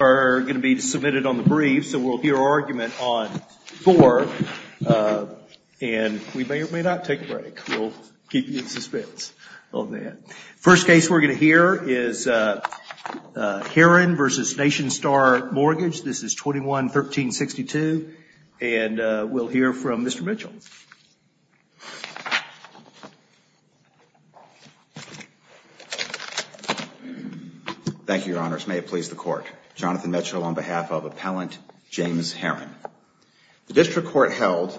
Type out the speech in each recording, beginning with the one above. are going to be submitted on the brief, so we'll hear argument on four, and we may or may not take a break. We'll keep you in suspense on that. First case we're going to hear is Heron v. Nationstar Mortgage. This is 21-1362, and we'll hear from Mr. Mitchell. Thank you, Your Honors. May it please the Court. Jonathan Mitchell on behalf of Appellant James Heron. The District Court held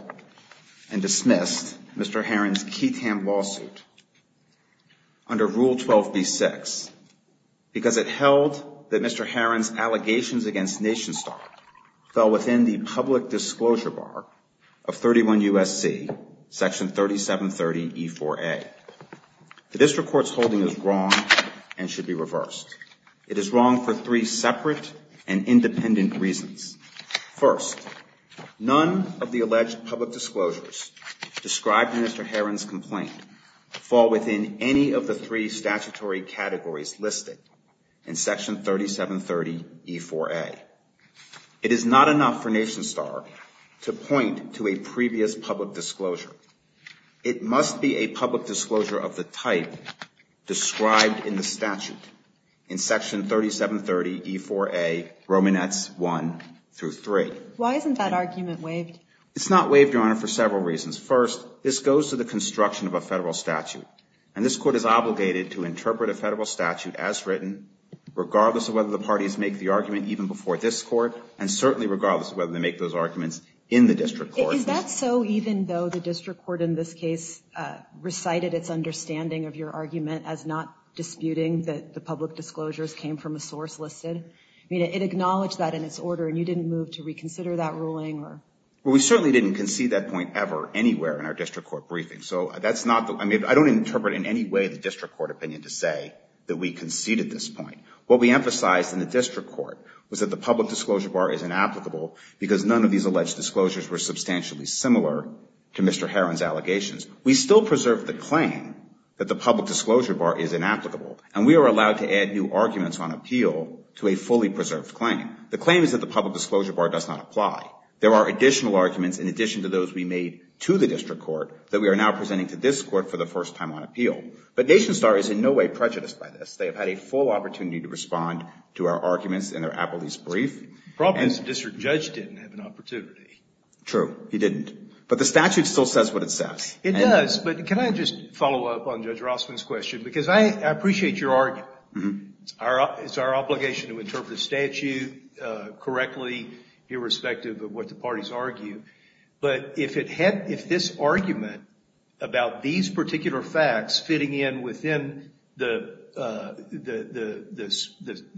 and dismissed Mr. Heron's Keatham lawsuit under Rule 12b-6 because it held that Mr. Heron's complaint falls within any of the three statutory categories listed in Section 3730E4A. It is not enough for Nationstar to point to a previous public disclosure. It must be a public disclosure of the type described in the statute in Section 3730E4A, Romanets 1-3. Why isn't that argument waived? It's not waived, Your Honor, for several reasons. First, this goes to the construction of a Federal statute, and this Court is obligated to interpret a Federal statute as written, regardless of whether the parties make the Is that so even though the District Court in this case recited its understanding of your argument as not disputing that the public disclosures came from a source listed? I mean, it acknowledged that in its order, and you didn't move to reconsider that ruling or? Well, we certainly didn't concede that point ever anywhere in our District Court briefing. So that's not the – I mean, I don't interpret in any way the District Court opinion to say that we conceded this point. What we emphasized in the District Court was that the public disclosures are substantially similar to Mr. Heron's allegations. We still preserve the claim that the public disclosure bar is inapplicable, and we are allowed to add new arguments on appeal to a fully preserved claim. The claim is that the public disclosure bar does not apply. There are additional arguments in addition to those we made to the District Court that we are now presenting to this Court for the first time on appeal. But Nationstar is in no way prejudiced by this. They have had a full opportunity to respond to our arguments in their But the statute still says what it says. It does. But can I just follow up on Judge Rossman's question? Because I appreciate your argument. It's our obligation to interpret the statute correctly, irrespective of what the parties argue. But if this argument about these particular facts fitting in within the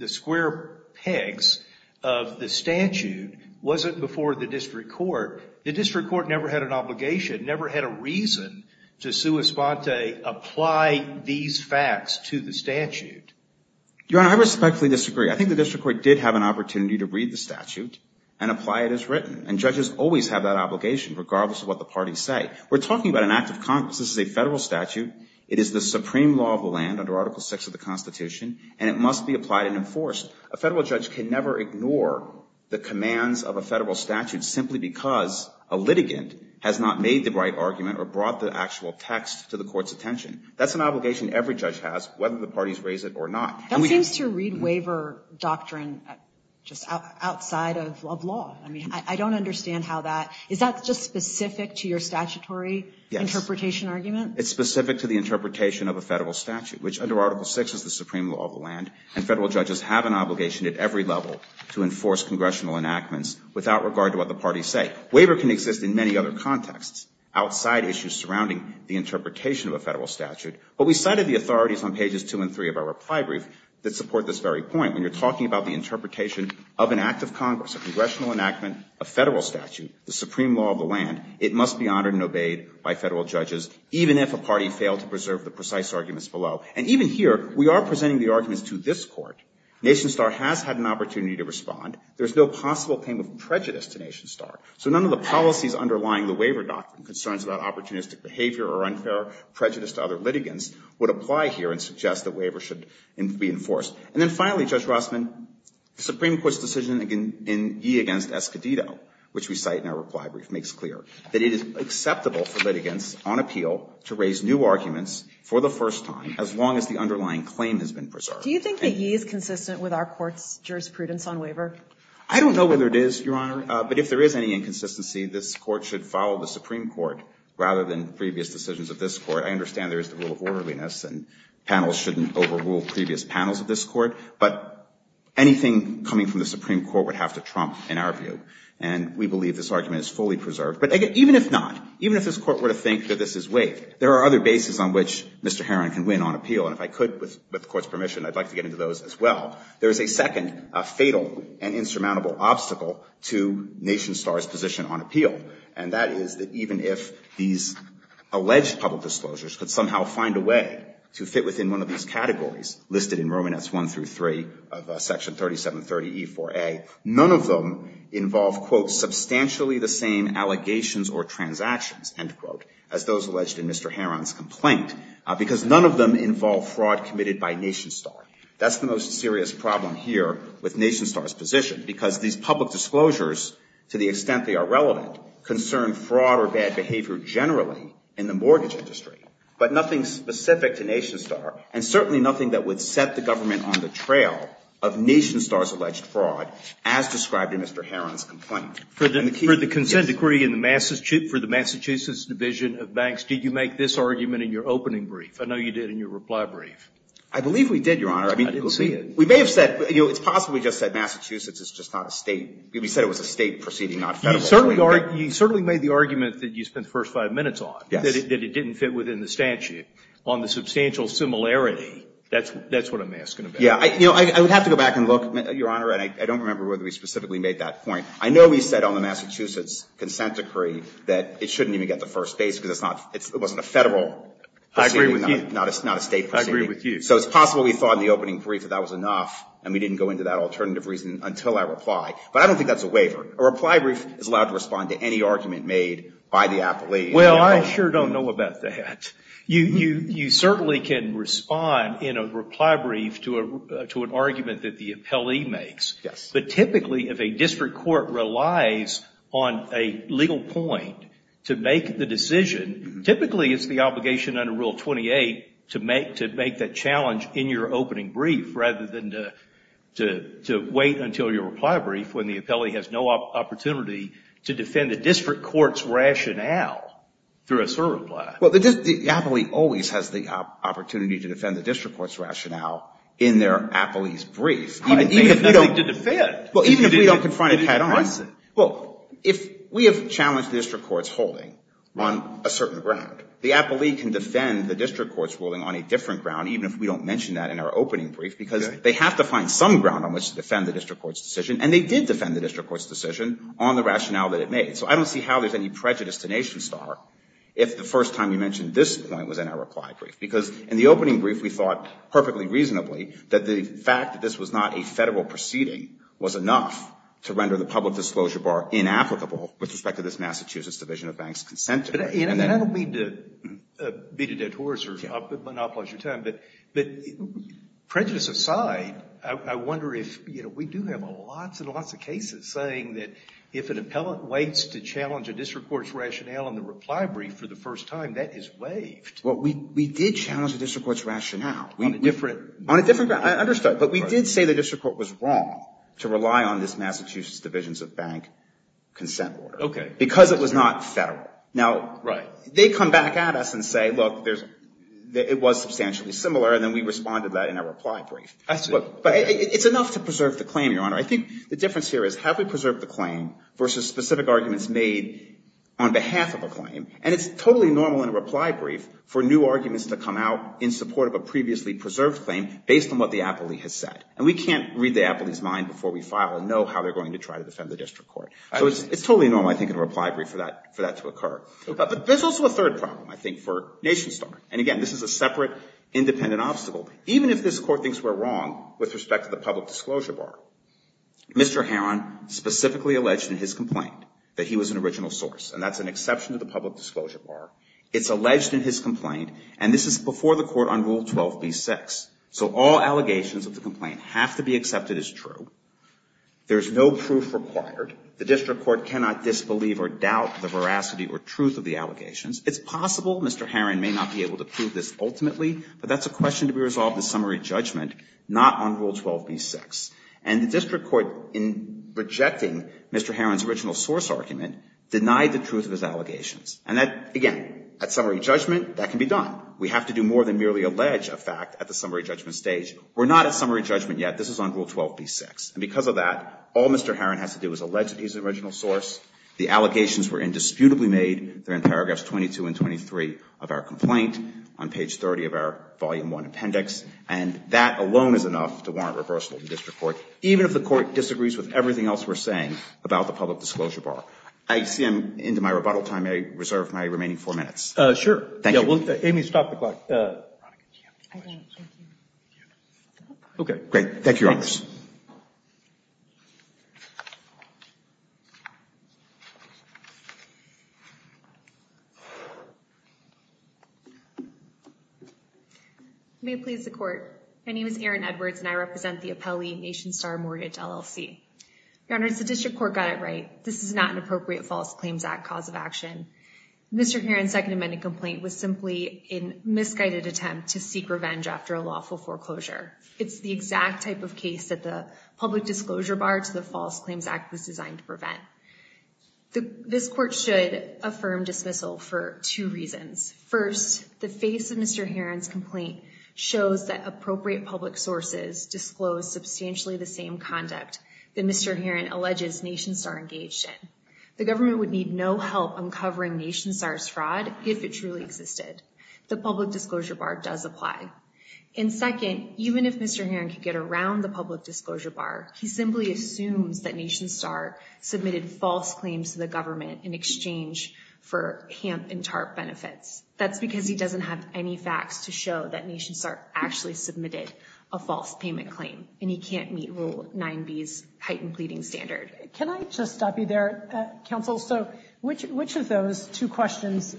square pegs of the The District Court never had an obligation, never had a reason to sua sponte apply these facts to the statute. Your Honor, I respectfully disagree. I think the District Court did have an opportunity to read the statute and apply it as written. And judges always have that obligation, regardless of what the parties say. We're talking about an act of Congress. This is a federal statute. It is the supreme law of the land under Article VI of the Constitution, and it must be applied and enforced. A federal judge can never ignore the a litigant has not made the right argument or brought the actual text to the court's attention. That's an obligation every judge has, whether the parties raise it or not. That seems to read waiver doctrine just outside of law. I mean, I don't understand how that — is that just specific to your statutory interpretation argument? It's specific to the interpretation of a federal statute, which under Article VI is the supreme law of the land, and federal judges have an obligation to do that. It doesn't exist in many other contexts outside issues surrounding the interpretation of a federal statute. But we cited the authorities on pages 2 and 3 of our reply brief that support this very point. When you're talking about the interpretation of an act of Congress, a congressional enactment, a federal statute, the supreme law of the land, it must be honored and obeyed by federal judges, even if a party failed to preserve the precise arguments below. And even here, we are presenting the arguments to this Court. NationStar has had an opportunity to respond. There's no possible claim of failure. And so all of these underlying the waiver doctrine, concerns about opportunistic behavior or unfair prejudice to other litigants, would apply here and suggest that waiver should be enforced. And then finally, Judge Rossman, the Supreme Court's decision in Yee v. Escodito, which we cite in our reply brief, makes clear that it is acceptable for litigants on appeal to raise new arguments for the first time as long as the underlying claim has been preserved. Do you think that Yee is consistent with our Court's jurisprudence on waiver? I don't know whether it is, Your Honor. But if there is any inconsistency, this Court should follow the Supreme Court rather than previous decisions of this Court. I understand there is the rule of orderliness, and panels shouldn't overrule previous panels of this Court. But anything coming from the Supreme Court would have to trump, in our view. And we believe this argument is fully preserved. But even if not, even if this Court were to think that this is waived, there are other bases on which Mr. Heron can win on appeal. And if I could, with the Court's permission, I'd like to get into those as well. There is a second fatal and insurmountable obstacle to Nation Star's position on appeal. And that is that even if these alleged public disclosures could somehow find a way to fit within one of these categories listed in Romanets 1 through 3 of Section 3730e-4a, none of them involve, quote, substantially the same allegations or transactions, end quote, as those alleged in Mr. Heron's complaint, because none of them involve fraud committed by Nation Star. That's the most serious problem here with Nation Star's position, because these public disclosures, to the extent they are relevant, concern fraud or bad behavior generally in the mortgage industry. But nothing specific to Nation Star, and certainly nothing that would set the government on the trail of Nation Star's alleged fraud, as described in Mr. Heron's complaint. For the consent decree for the Massachusetts Division of Banks, did you make this argument in your opening brief? I know you did in your reply brief. I believe we did, Your Honor. I didn't see it. We may have said, you know, it's possible we just said Massachusetts is just not a State. We said it was a State proceeding, not a Federal proceeding. You certainly made the argument that you spent the first five minutes on, that it didn't fit within the statute. On the substantial similarity, that's what I'm asking about. Yeah. You know, I would have to go back and look, Your Honor, and I don't remember whether we specifically made that point. I know we said on the Massachusetts consent decree that it shouldn't even get the first base because it's not, it wasn't a Federal proceeding. I agree with you. Not a State proceeding. I agree with you. So it's possible we thought in the opening brief that that was enough, and we didn't go into that alternative reason until our reply. But I don't think that's a waiver. A reply brief is allowed to respond to any argument made by the appellee. Well, I sure don't know about that. You certainly can respond in a reply brief to an argument that the appellee makes. Yes. But typically, if a district court relies on a legal point to make the decision, typically it's the obligation under Rule 28 to make that challenge in your opening brief, rather than to wait until your reply brief when the appellee has no opportunity to defend the district court's rationale through a sort of reply. Well, the appellee always has the opportunity to defend the district court's rationale in their appellee's brief. Even if we don't confront it head-on. Well, if we have challenged the district court's holding on a certain ground, the appellee can defend the district court's ruling on a different ground, even if we don't mention that in our opening brief, because they have to find some ground on which to defend the district court's decision, and they did defend the district court's decision on the rationale that it made. So I don't see how there's any prejudice to NationStar if the first time you mentioned this point was in our reply brief, because in the opening brief, we thought perfectly reasonably that the fact that this was not a Federal proceeding was enough to render the public disclosure bar inapplicable with respect to this Massachusetts Division of Bank's consent to it. I don't mean to beat a dead horse or monopolize your time, but prejudice aside, I wonder if, you know, we do have lots and lots of cases saying that if an appellant waits to challenge a district court's rationale in the reply brief for the first time, that is waived. Well, we did challenge the district court's rationale on a different ground. I understand, but we did say the district court was wrong to rely on this Massachusetts Division of Bank's consent order. Okay. Because it was not Federal. Right. Now, they come back at us and say, look, it was substantially similar, and then we responded to that in our reply brief. Absolutely. But it's enough to preserve the claim, Your Honor. I think the difference here is have we preserved the claim versus specific arguments made on behalf of a claim? And it's totally normal in a reply brief for new arguments to come out in support of a previously preserved claim based on what the appellee has said. And we can't read the appellee's mind before we file and know how they're going to try to defend the district court. So it's totally normal, I think, in a reply brief for that to occur. But there's also a third problem, I think, for NationStar. And again, this is a separate independent obstacle. Even if this Court thinks we're wrong with respect to the public disclosure bar, Mr. Heron specifically alleged in his complaint that he was an original source. And that's an exception to the public disclosure bar. It's alleged in his complaint. And this is before the Court on Rule 12b-6. So all allegations of the complaint have to be accepted as true. There's no proof required. The district court cannot disbelieve or doubt the veracity or truth of the allegations. It's possible Mr. Heron may not be able to prove this ultimately, but that's a question to be resolved in summary judgment, not on Rule 12b-6. And the district court, in rejecting Mr. Heron's original source argument, denied the truth of his allegations. And that, again, at summary judgment, that can be done. We have to do more than merely allege a fact at the summary judgment stage. We're not at summary judgment yet. This is on Rule 12b-6. And because of that, all Mr. Heron has to do is allege that he's an original source. The allegations were indisputably made. They're in paragraphs 22 and 23 of our complaint on page 30 of our volume 1 appendix. And that alone is enough to warrant reversal in the district court, even if the Court disagrees with everything else we're saying about the public disclosure bar. I see I'm into my rebuttal time. May I reserve my remaining four minutes? Roberts. Sure. Thank you. Yeah, well, Amy, stop the clock. Veronica, do you have any questions? Okay, great. Thank you, Your Honors. May it please the Court. My name is Erin Edwards, and I represent the Appellee Nation Star Mortgage LLC. Your Honors, the district court got it right. This is not an appropriate False Claims Act cause of action. Mr. Heron's Second Amendment complaint was simply a misguided attempt to seek revenge after a lawful foreclosure. It's the exact type of case that the public disclosure bar to the False Claims Act was designed to prevent. This Court should affirm dismissal for two reasons. First, the face of Mr. Heron's complaint shows that appropriate public sources disclose substantially the same conduct that Mr. Heron alleges Nation Star engaged in. The government would need no help uncovering Nation Star's fraud if it truly existed. The public disclosure bar does apply. And second, even if Mr. Heron could get around the public disclosure bar, he simply assumes that Nation Star submitted false claims to the government in exchange for HAMP and TARP benefits. That's because he doesn't have any facts to show that Nation Star actually submitted a false payment claim, and he can't meet Rule 9b's heightened pleading standard. Can I just stop you there, Counsel? So which of those two questions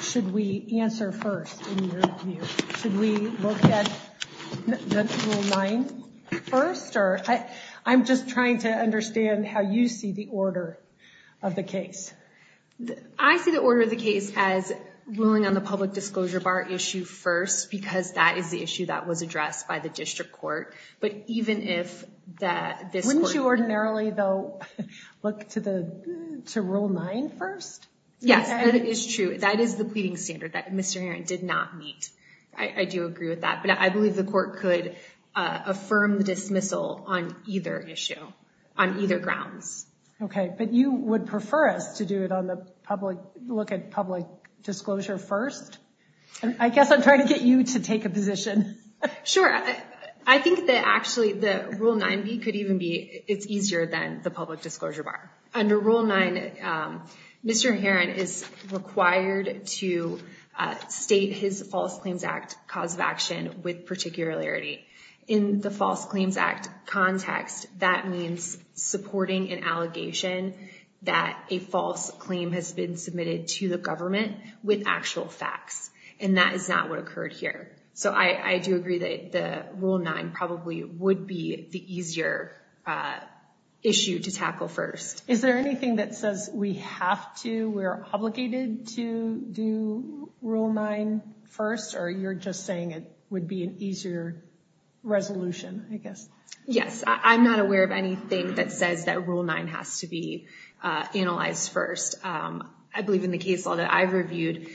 should we answer first in your view? Should we look at Rule 9 first? Or I'm just trying to understand how you see the order of the case. I see the order of the case as ruling on the public disclosure bar issue first, because that is the issue that was addressed by the district court. Wouldn't you ordinarily, though, look to Rule 9 first? Yes, that is true. That is the pleading standard that Mr. Heron did not meet. I do agree with that, but I believe the court could affirm the dismissal on either issue, on either grounds. Okay, but you would prefer us to do it on the public, look at public disclosure first? I guess I'm trying to get you to take a position. Sure. I think that actually Rule 9b could even be easier than the public disclosure bar. Under Rule 9, Mr. Heron is required to state his False Claims Act cause of action with particularity. In the False Claims Act context, that means supporting an allegation that a false claim has been submitted to the government with actual facts, and that is not what occurred here. So I do agree that Rule 9 probably would be the easier issue to tackle first. Is there anything that says we have to, we're obligated to do Rule 9 first, or you're just saying it would be an easier resolution, I guess? Yes, I'm not aware of anything that says that Rule 9 has to be analyzed first. I believe in the case law that I've reviewed,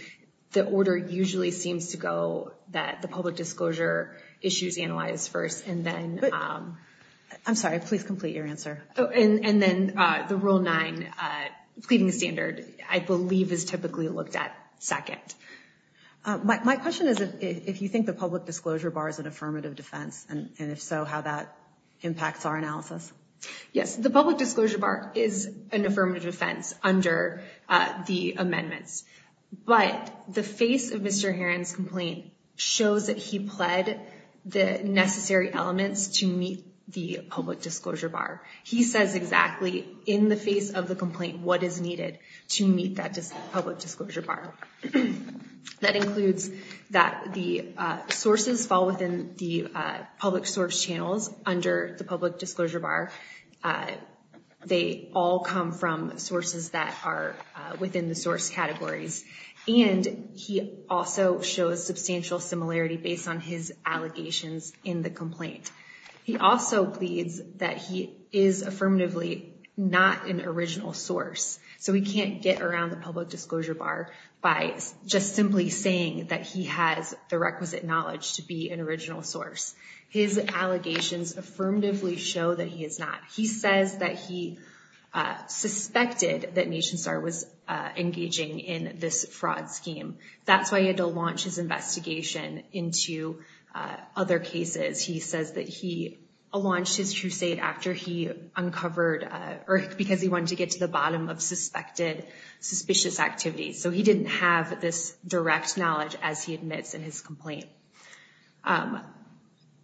the order usually seems to go that the public disclosure issues analyzed first, and then— I'm sorry, please complete your answer. And then the Rule 9 pleading standard, I believe, is typically looked at second. My question is if you think the public disclosure bar is an affirmative defense, and if so, how that impacts our analysis. Yes, the public disclosure bar is an affirmative defense under the amendments, but the face of Mr. Heron's complaint shows that he pled the necessary elements to meet the public disclosure bar. He says exactly in the face of the complaint what is needed to meet that public disclosure bar. That includes that the sources fall within the public source channels under the public disclosure bar. They all come from sources that are within the source categories, and he also shows substantial similarity based on his allegations in the complaint. He also pleads that he is affirmatively not an original source, so we can't get around the public disclosure bar by just simply saying that he has the requisite knowledge to be an original source. His allegations affirmatively show that he is not. He says that he suspected that NationStar was engaging in this fraud scheme. That's why he had to launch his investigation into other cases. He says that he launched his crusade because he wanted to get to the bottom of suspicious activities, so he didn't have this direct knowledge as he admits in his complaint.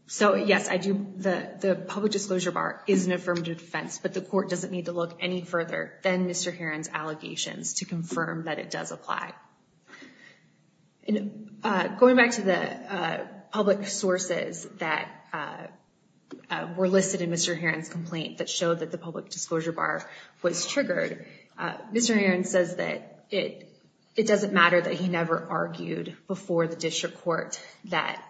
So, yes, the public disclosure bar is an affirmative defense, but the court doesn't need to look any further than Mr. Heron's allegations to confirm that it does apply. Going back to the public sources that were listed in Mr. Heron's complaint that showed that the public disclosure bar was triggered, Mr. Heron says that it doesn't matter that he never argued before the district court that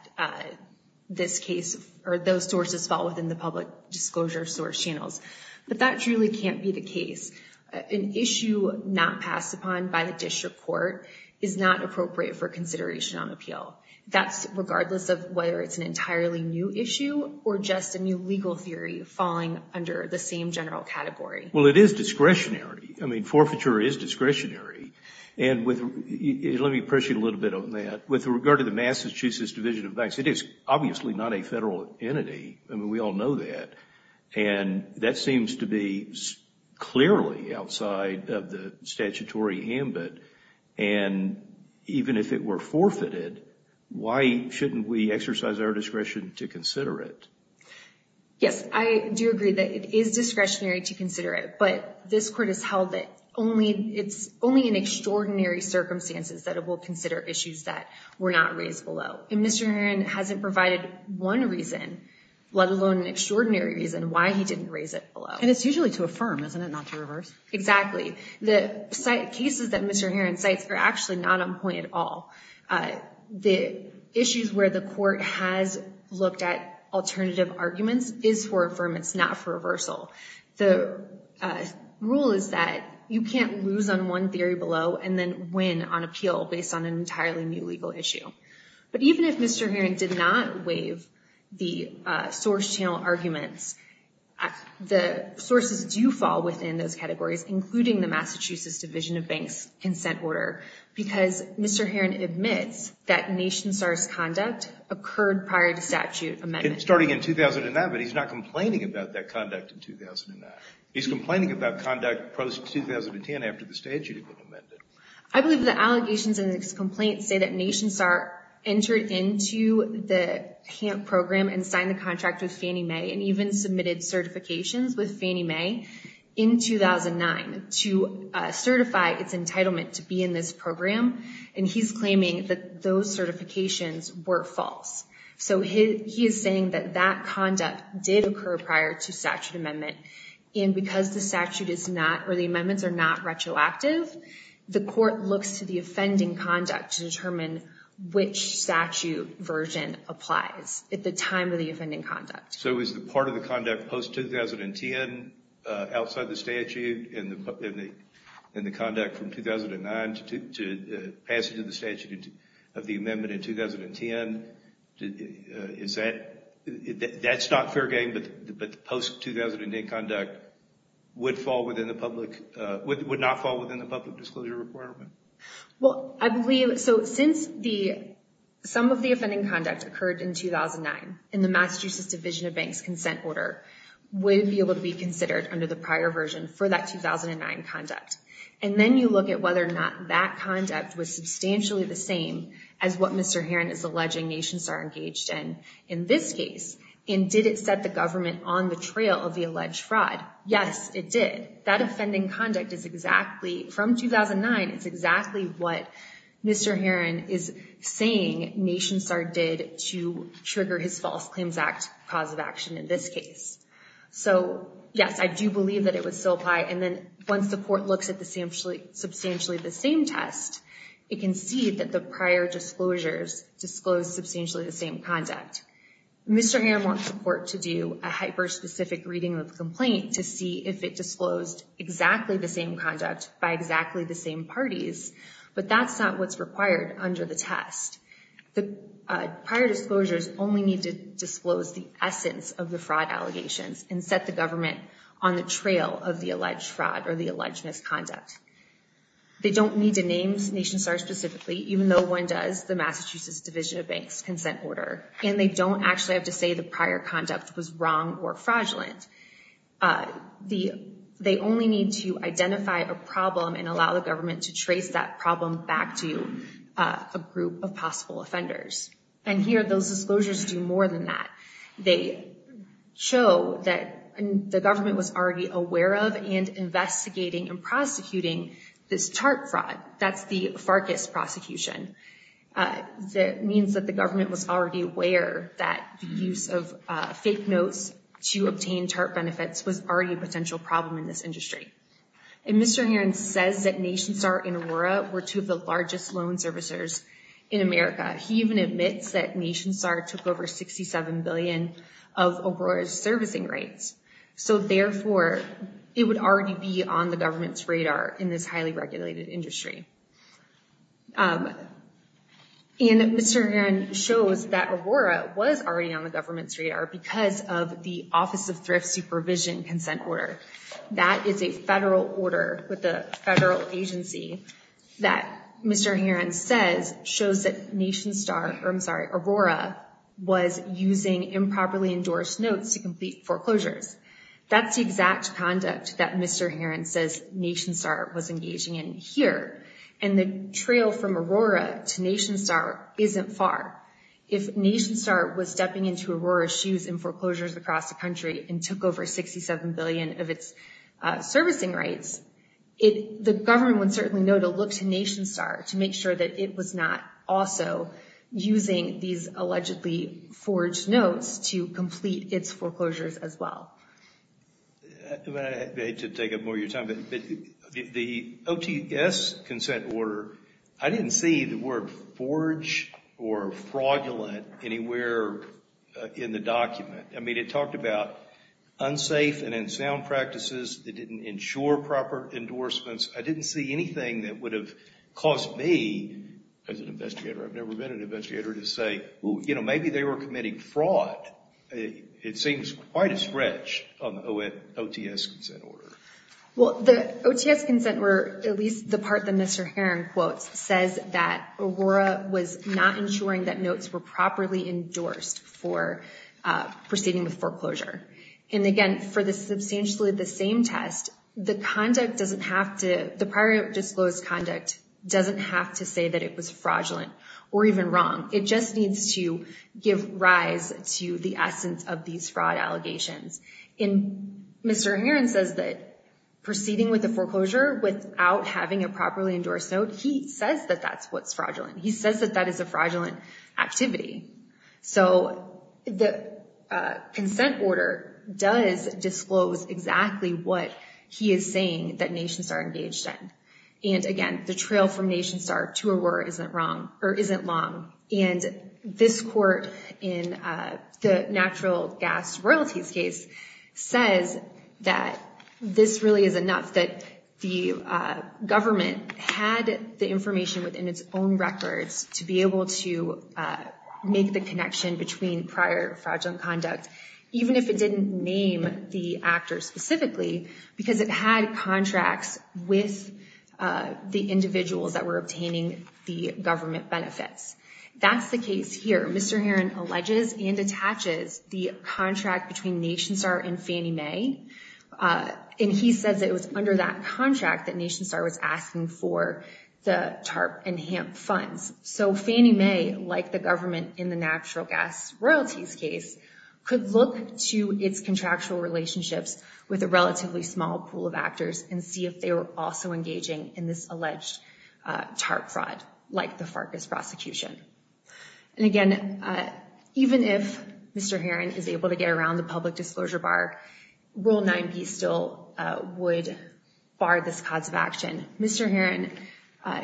those sources fall within the public disclosure source channels, but that truly can't be the case. An issue not passed upon by the district court is not appropriate for consideration on appeal. That's regardless of whether it's an entirely new issue or just a new legal theory falling under the same general category. Well, it is discretionary. I mean, forfeiture is discretionary. And let me press you a little bit on that. With regard to the Massachusetts Division of Banks, it is obviously not a federal entity. I mean, we all know that. And that seems to be clearly outside of the statutory ambit. And even if it were forfeited, why shouldn't we exercise our discretion to consider it? Yes, I do agree that it is discretionary to consider it, but this court has held that it's only in extraordinary circumstances that it will consider issues that were not raised below. And Mr. Heron hasn't provided one reason, let alone an extraordinary reason, why he didn't raise it below. And it's usually to affirm, isn't it, not to reverse? Exactly. The cases that Mr. Heron cites are actually not on point at all. The issues where the court has looked at alternative arguments is for affirmance, not for reversal. The rule is that you can't lose on one theory below and then win on appeal based on an entirely new legal issue. But even if Mr. Heron did not waive the source channel arguments, the sources do fall within those categories, including the Massachusetts Division of Banks' consent order, because Mr. Heron admits that NationSAR's conduct occurred prior to statute amendment. Starting in 2009, but he's not complaining about that conduct in 2009. He's complaining about conduct post-2010 after the statute had been amended. I believe the allegations in this complaint say that NationSAR entered into the HAMP program and signed the contract with Fannie Mae and even submitted certifications with Fannie Mae in 2009 to certify its entitlement to be in this program. And he's claiming that those certifications were false. So he is saying that that conduct did occur prior to statute amendment. And because the statute is not, or the amendments are not retroactive, the court looks to the offending conduct to determine which statute version applies at the time of the offending conduct. So is the part of the conduct post-2010 outside the statute and the conduct from 2009 to passage of the statute of the amendment in 2010, is that, that's not fair game, but the post-2008 conduct would fall within the public, would not fall within the public disclosure requirement? Well, I believe, so since the, some of the offending conduct occurred in 2009 in the Massachusetts Division of Bank's consent order would be able to be considered under the prior version for that 2009 conduct. And then you look at whether or not that conduct was substantially the same as what Mr. Heron is alleging NationStar engaged in in this case. And did it set the government on the trail of the alleged fraud? Yes, it did. That offending conduct is exactly, from 2009, it's exactly what Mr. Heron is saying NationStar did to trigger his False Claims Act cause of action in this case. So, yes, I do believe that it would still apply. And then once the court looks at the substantially the same test, it can see that the prior disclosures disclose substantially the same conduct. Mr. Heron wants the court to do a hyper-specific reading of the complaint to see if it disclosed exactly the same conduct by exactly the same parties, but that's not what's required under the test. The prior disclosures only need to disclose the essence of the fraud allegations and set the government on the trail of the alleged fraud or the alleged misconduct. They don't need to name NationStar specifically, even though one does the Massachusetts Division of Bank's consent order, and they don't actually have to say the prior conduct was wrong or fraudulent. They only need to identify a problem and allow the government to trace that problem back to a group of possible offenders. And here those disclosures do more than that. They show that the government was already aware of and investigating and prosecuting this TARP fraud. That's the Farkas prosecution. That means that the government was already aware that the use of fake notes to obtain TARP benefits was already a potential problem in this industry. And Mr. Heron says that NationStar and Aurora were two of the largest loan servicers in America. He even admits that NationStar took over $67 billion of Aurora's servicing rates. So therefore, it would already be on the government's radar in this highly regulated industry. And Mr. Heron shows that Aurora was already on the government's radar because of the Office of Thrift Supervision consent order. That is a federal order with a federal agency that Mr. Heron says shows that Aurora was using improperly endorsed notes to complete foreclosures. That's the exact conduct that Mr. Heron says NationStar was engaging in here. And the trail from Aurora to NationStar isn't far. If NationStar was stepping into Aurora's shoes in foreclosures across the country and took over $67 billion of its servicing rates, the government would certainly know to look to NationStar to make sure that it was not also using these allegedly forged notes to complete its foreclosures as well. I hate to take up more of your time, but the OTS consent order, I didn't see the word forged or fraudulent anywhere in the document. I mean, it talked about unsafe and unsound practices that didn't ensure proper endorsements. I didn't see anything that would have caused me, as an investigator, I've never been an investigator, to say, you know, maybe they were committing fraud. It seems quite a stretch on the OTS consent order. Well, the OTS consent, or at least the part that Mr. Heron quotes, says that Aurora was not ensuring that notes were properly endorsed for proceeding with foreclosure. And again, for substantially the same test, the prior disclosed conduct doesn't have to say that it was fraudulent or even wrong. It just needs to give rise to the essence of these fraud allegations. And Mr. Heron says that proceeding with a foreclosure without having a properly endorsed note, he says that that's what's fraudulent. He says that that is a fraudulent activity. So the consent order does disclose exactly what he is saying that NationStar engaged in. And again, the trail from NationStar to Aurora isn't long. And this court, in the natural gas royalties case, says that this really is enough that the government had the information within its own records to be able to make the connection between prior fraudulent conduct, even if it didn't name the actor specifically, because it had contracts with the individuals that were obtaining the government benefits. That's the case here. Mr. Heron alleges and attaches the contract between NationStar and Fannie Mae. And he says it was under that contract that NationStar was asking for the TARP and HAMP funds. So Fannie Mae, like the government in the natural gas royalties case, could look to its contractual relationships with a relatively small pool of actors and see if they were also engaging in this alleged TARP fraud, like the Farkas prosecution. And again, even if Mr. Heron is able to get around the public disclosure bar, Rule 9b still would bar this cause of action. Mr. Heron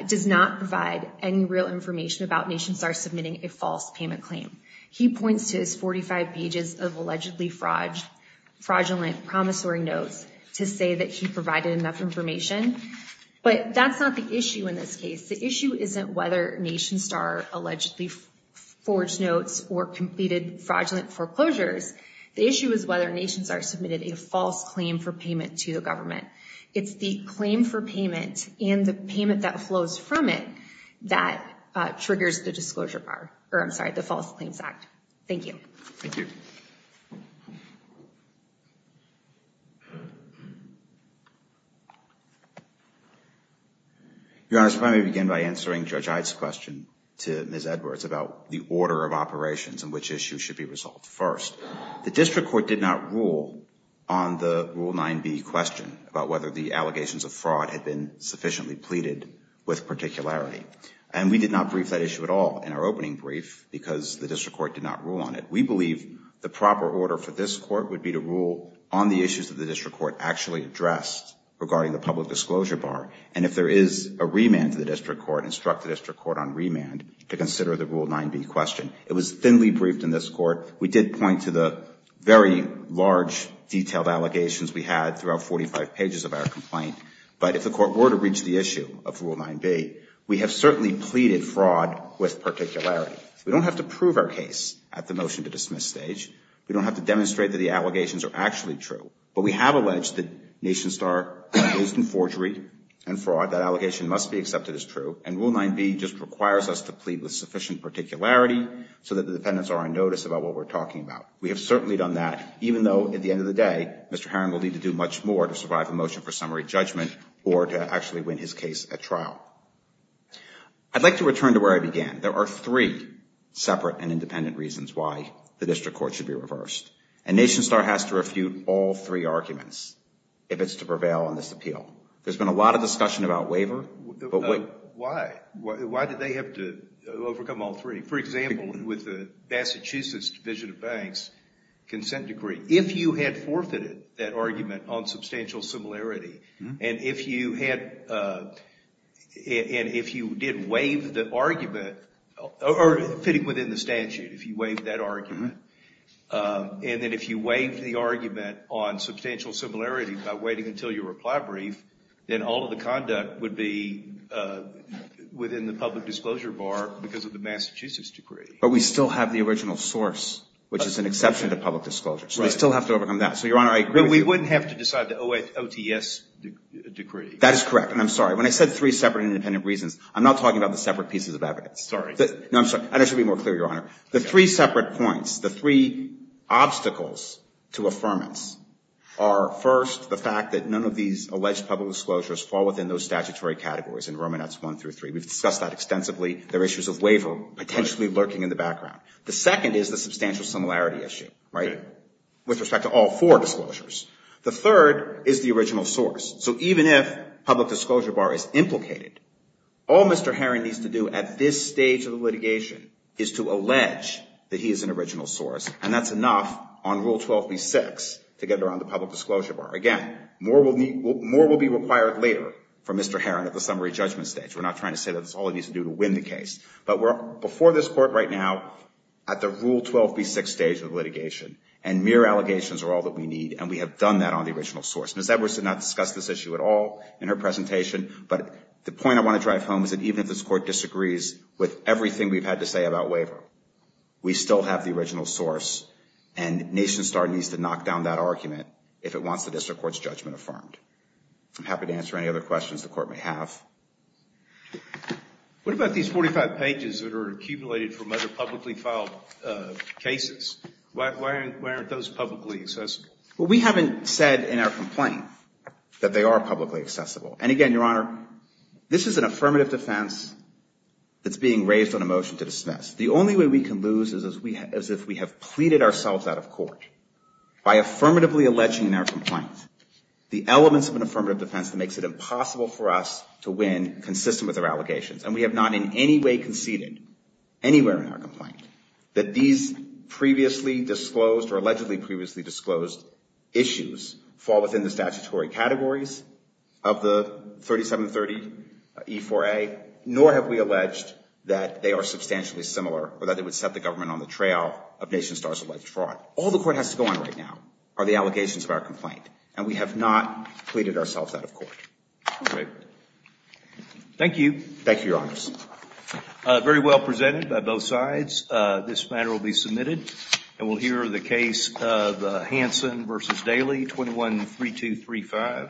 does not provide any real information about NationStar submitting a false payment claim. He points to his 45 pages of allegedly fraudulent promissory notes to say that he provided enough information. But that's not the issue in this case. The issue isn't whether NationStar allegedly forged notes or completed fraudulent foreclosures. The issue is whether NationStar submitted a false claim for payment to the government. It's the claim for payment and the payment that flows from it that triggers the disclosure bar, or I'm sorry, the False Claims Act. Thank you. Your Honor, if I may begin by answering Judge Ide's question to Ms. Edwards about the order of operations and which issues should be resolved. First, the district court did not rule on the Rule 9b question about whether the allegations of fraud had been sufficiently pleaded with particularity. And we did not brief that issue at all in our opening brief because the district court did not rule on it. We believe the proper order for this court would be to rule on the issues that the district court actually addressed regarding the public disclosure bar. And if there is a remand to the district court, instruct the district court on remand to consider the Rule 9b question. It was thinly briefed in this court. We did point to the very large, detailed allegations we had throughout 45 pages of our complaint. But if the court were to reach the issue of Rule 9b, we have certainly pleaded fraud with particularity. We don't have to prove our case at the motion-to-dismiss stage. We don't have to demonstrate that the allegations are actually true. But we have alleged that Nation Star is in forgery and fraud. That allegation must be accepted as true. And Rule 9b just requires us to plead with sufficient particularity so that the defendants are on notice about what we're talking about. We have certainly done that, even though, at the end of the day, Mr. Harron will need to do much more to survive a motion for summary judgment or to actually win his case at trial. I'd like to return to where I began. There are three separate and independent reasons why the district court should be reversed. And Nation Star has to refute all three arguments if it's to prevail on this appeal. There's been a lot of discussion about waiver. Why? Why did they have to overcome all three? For example, with the Massachusetts Division of Banks' consent decree, if you had forfeited that argument on substantial similarity, and if you did waive the argument, or fitting within the statute, if you waived that argument, and then if you waived the argument on substantial similarity by waiting until your reply brief, then all of the conduct would be within the public disclosure bar because of the Massachusetts decree. But we still have the original source, which is an exception to public disclosure. So we still have to overcome that. So, Your Honor, I agree with you. But we wouldn't have to decide the OTS decree. That is correct. And I'm sorry. When I said three separate and independent reasons, I'm not talking about the separate pieces of evidence. Sorry. No, I'm sorry. And I should be more clear, Your Honor. The three separate points, the three obstacles to affirmance are, first, the fact that none of these alleged public disclosures fall within those statutory categories in Romanets I through III. We've discussed that extensively. There are issues of waiver potentially lurking in the background. The second is the substantial similarity issue, right, with respect to all four disclosures. The third is the original source. So even if public disclosure bar is implicated, all Mr. Herron needs to do at this stage of the litigation is to allege that he is an original source, and that's enough on Rule 12b-6 to get around the public disclosure bar. Again, more will be required later from Mr. Herron at the summary judgment stage. We're not trying to say that's all he needs to do to win the case. But we're, before this court right now, at the Rule 12b-6 stage of litigation, and mere allegations are all that we need, and we have done that on the original source. Ms. Everson not discussed this issue at all in her presentation, but the point I want to drive home is that even if this court disagrees with everything we've had to say about waiver, we still have the original source, and NationStar needs to knock down that argument if it wants the district court's judgment affirmed. I'm happy to answer any other questions the court may have. What about these 45 pages that are accumulated from other publicly filed cases? Why aren't those publicly accessible? Well, we haven't said in our complaint that they are publicly accessible. And again, Your Honor, this is an affirmative defense that's being raised on a motion to dismiss. The only way we can lose is if we have pleaded ourselves out of court by affirmatively alleging in our complaint the elements of an affirmative defense that makes it impossible for us to win consistent with our allegations, and we have not in any way conceded anywhere in our complaint that these previously disclosed or allegedly previously disclosed issues fall within the statutory categories of the 3730E4A, nor have we alleged that they are substantially similar or that they would set the government on the trail of NationStar's alleged fraud. All the court has to go on right now are the allegations of our complaint, and we have not pleaded ourselves out of court. All right. Thank you. Thank you, Your Honors. Very well presented by both sides. This matter will be submitted. And we'll hear the case of Hansen v. Daley, 21-3235. Thank you.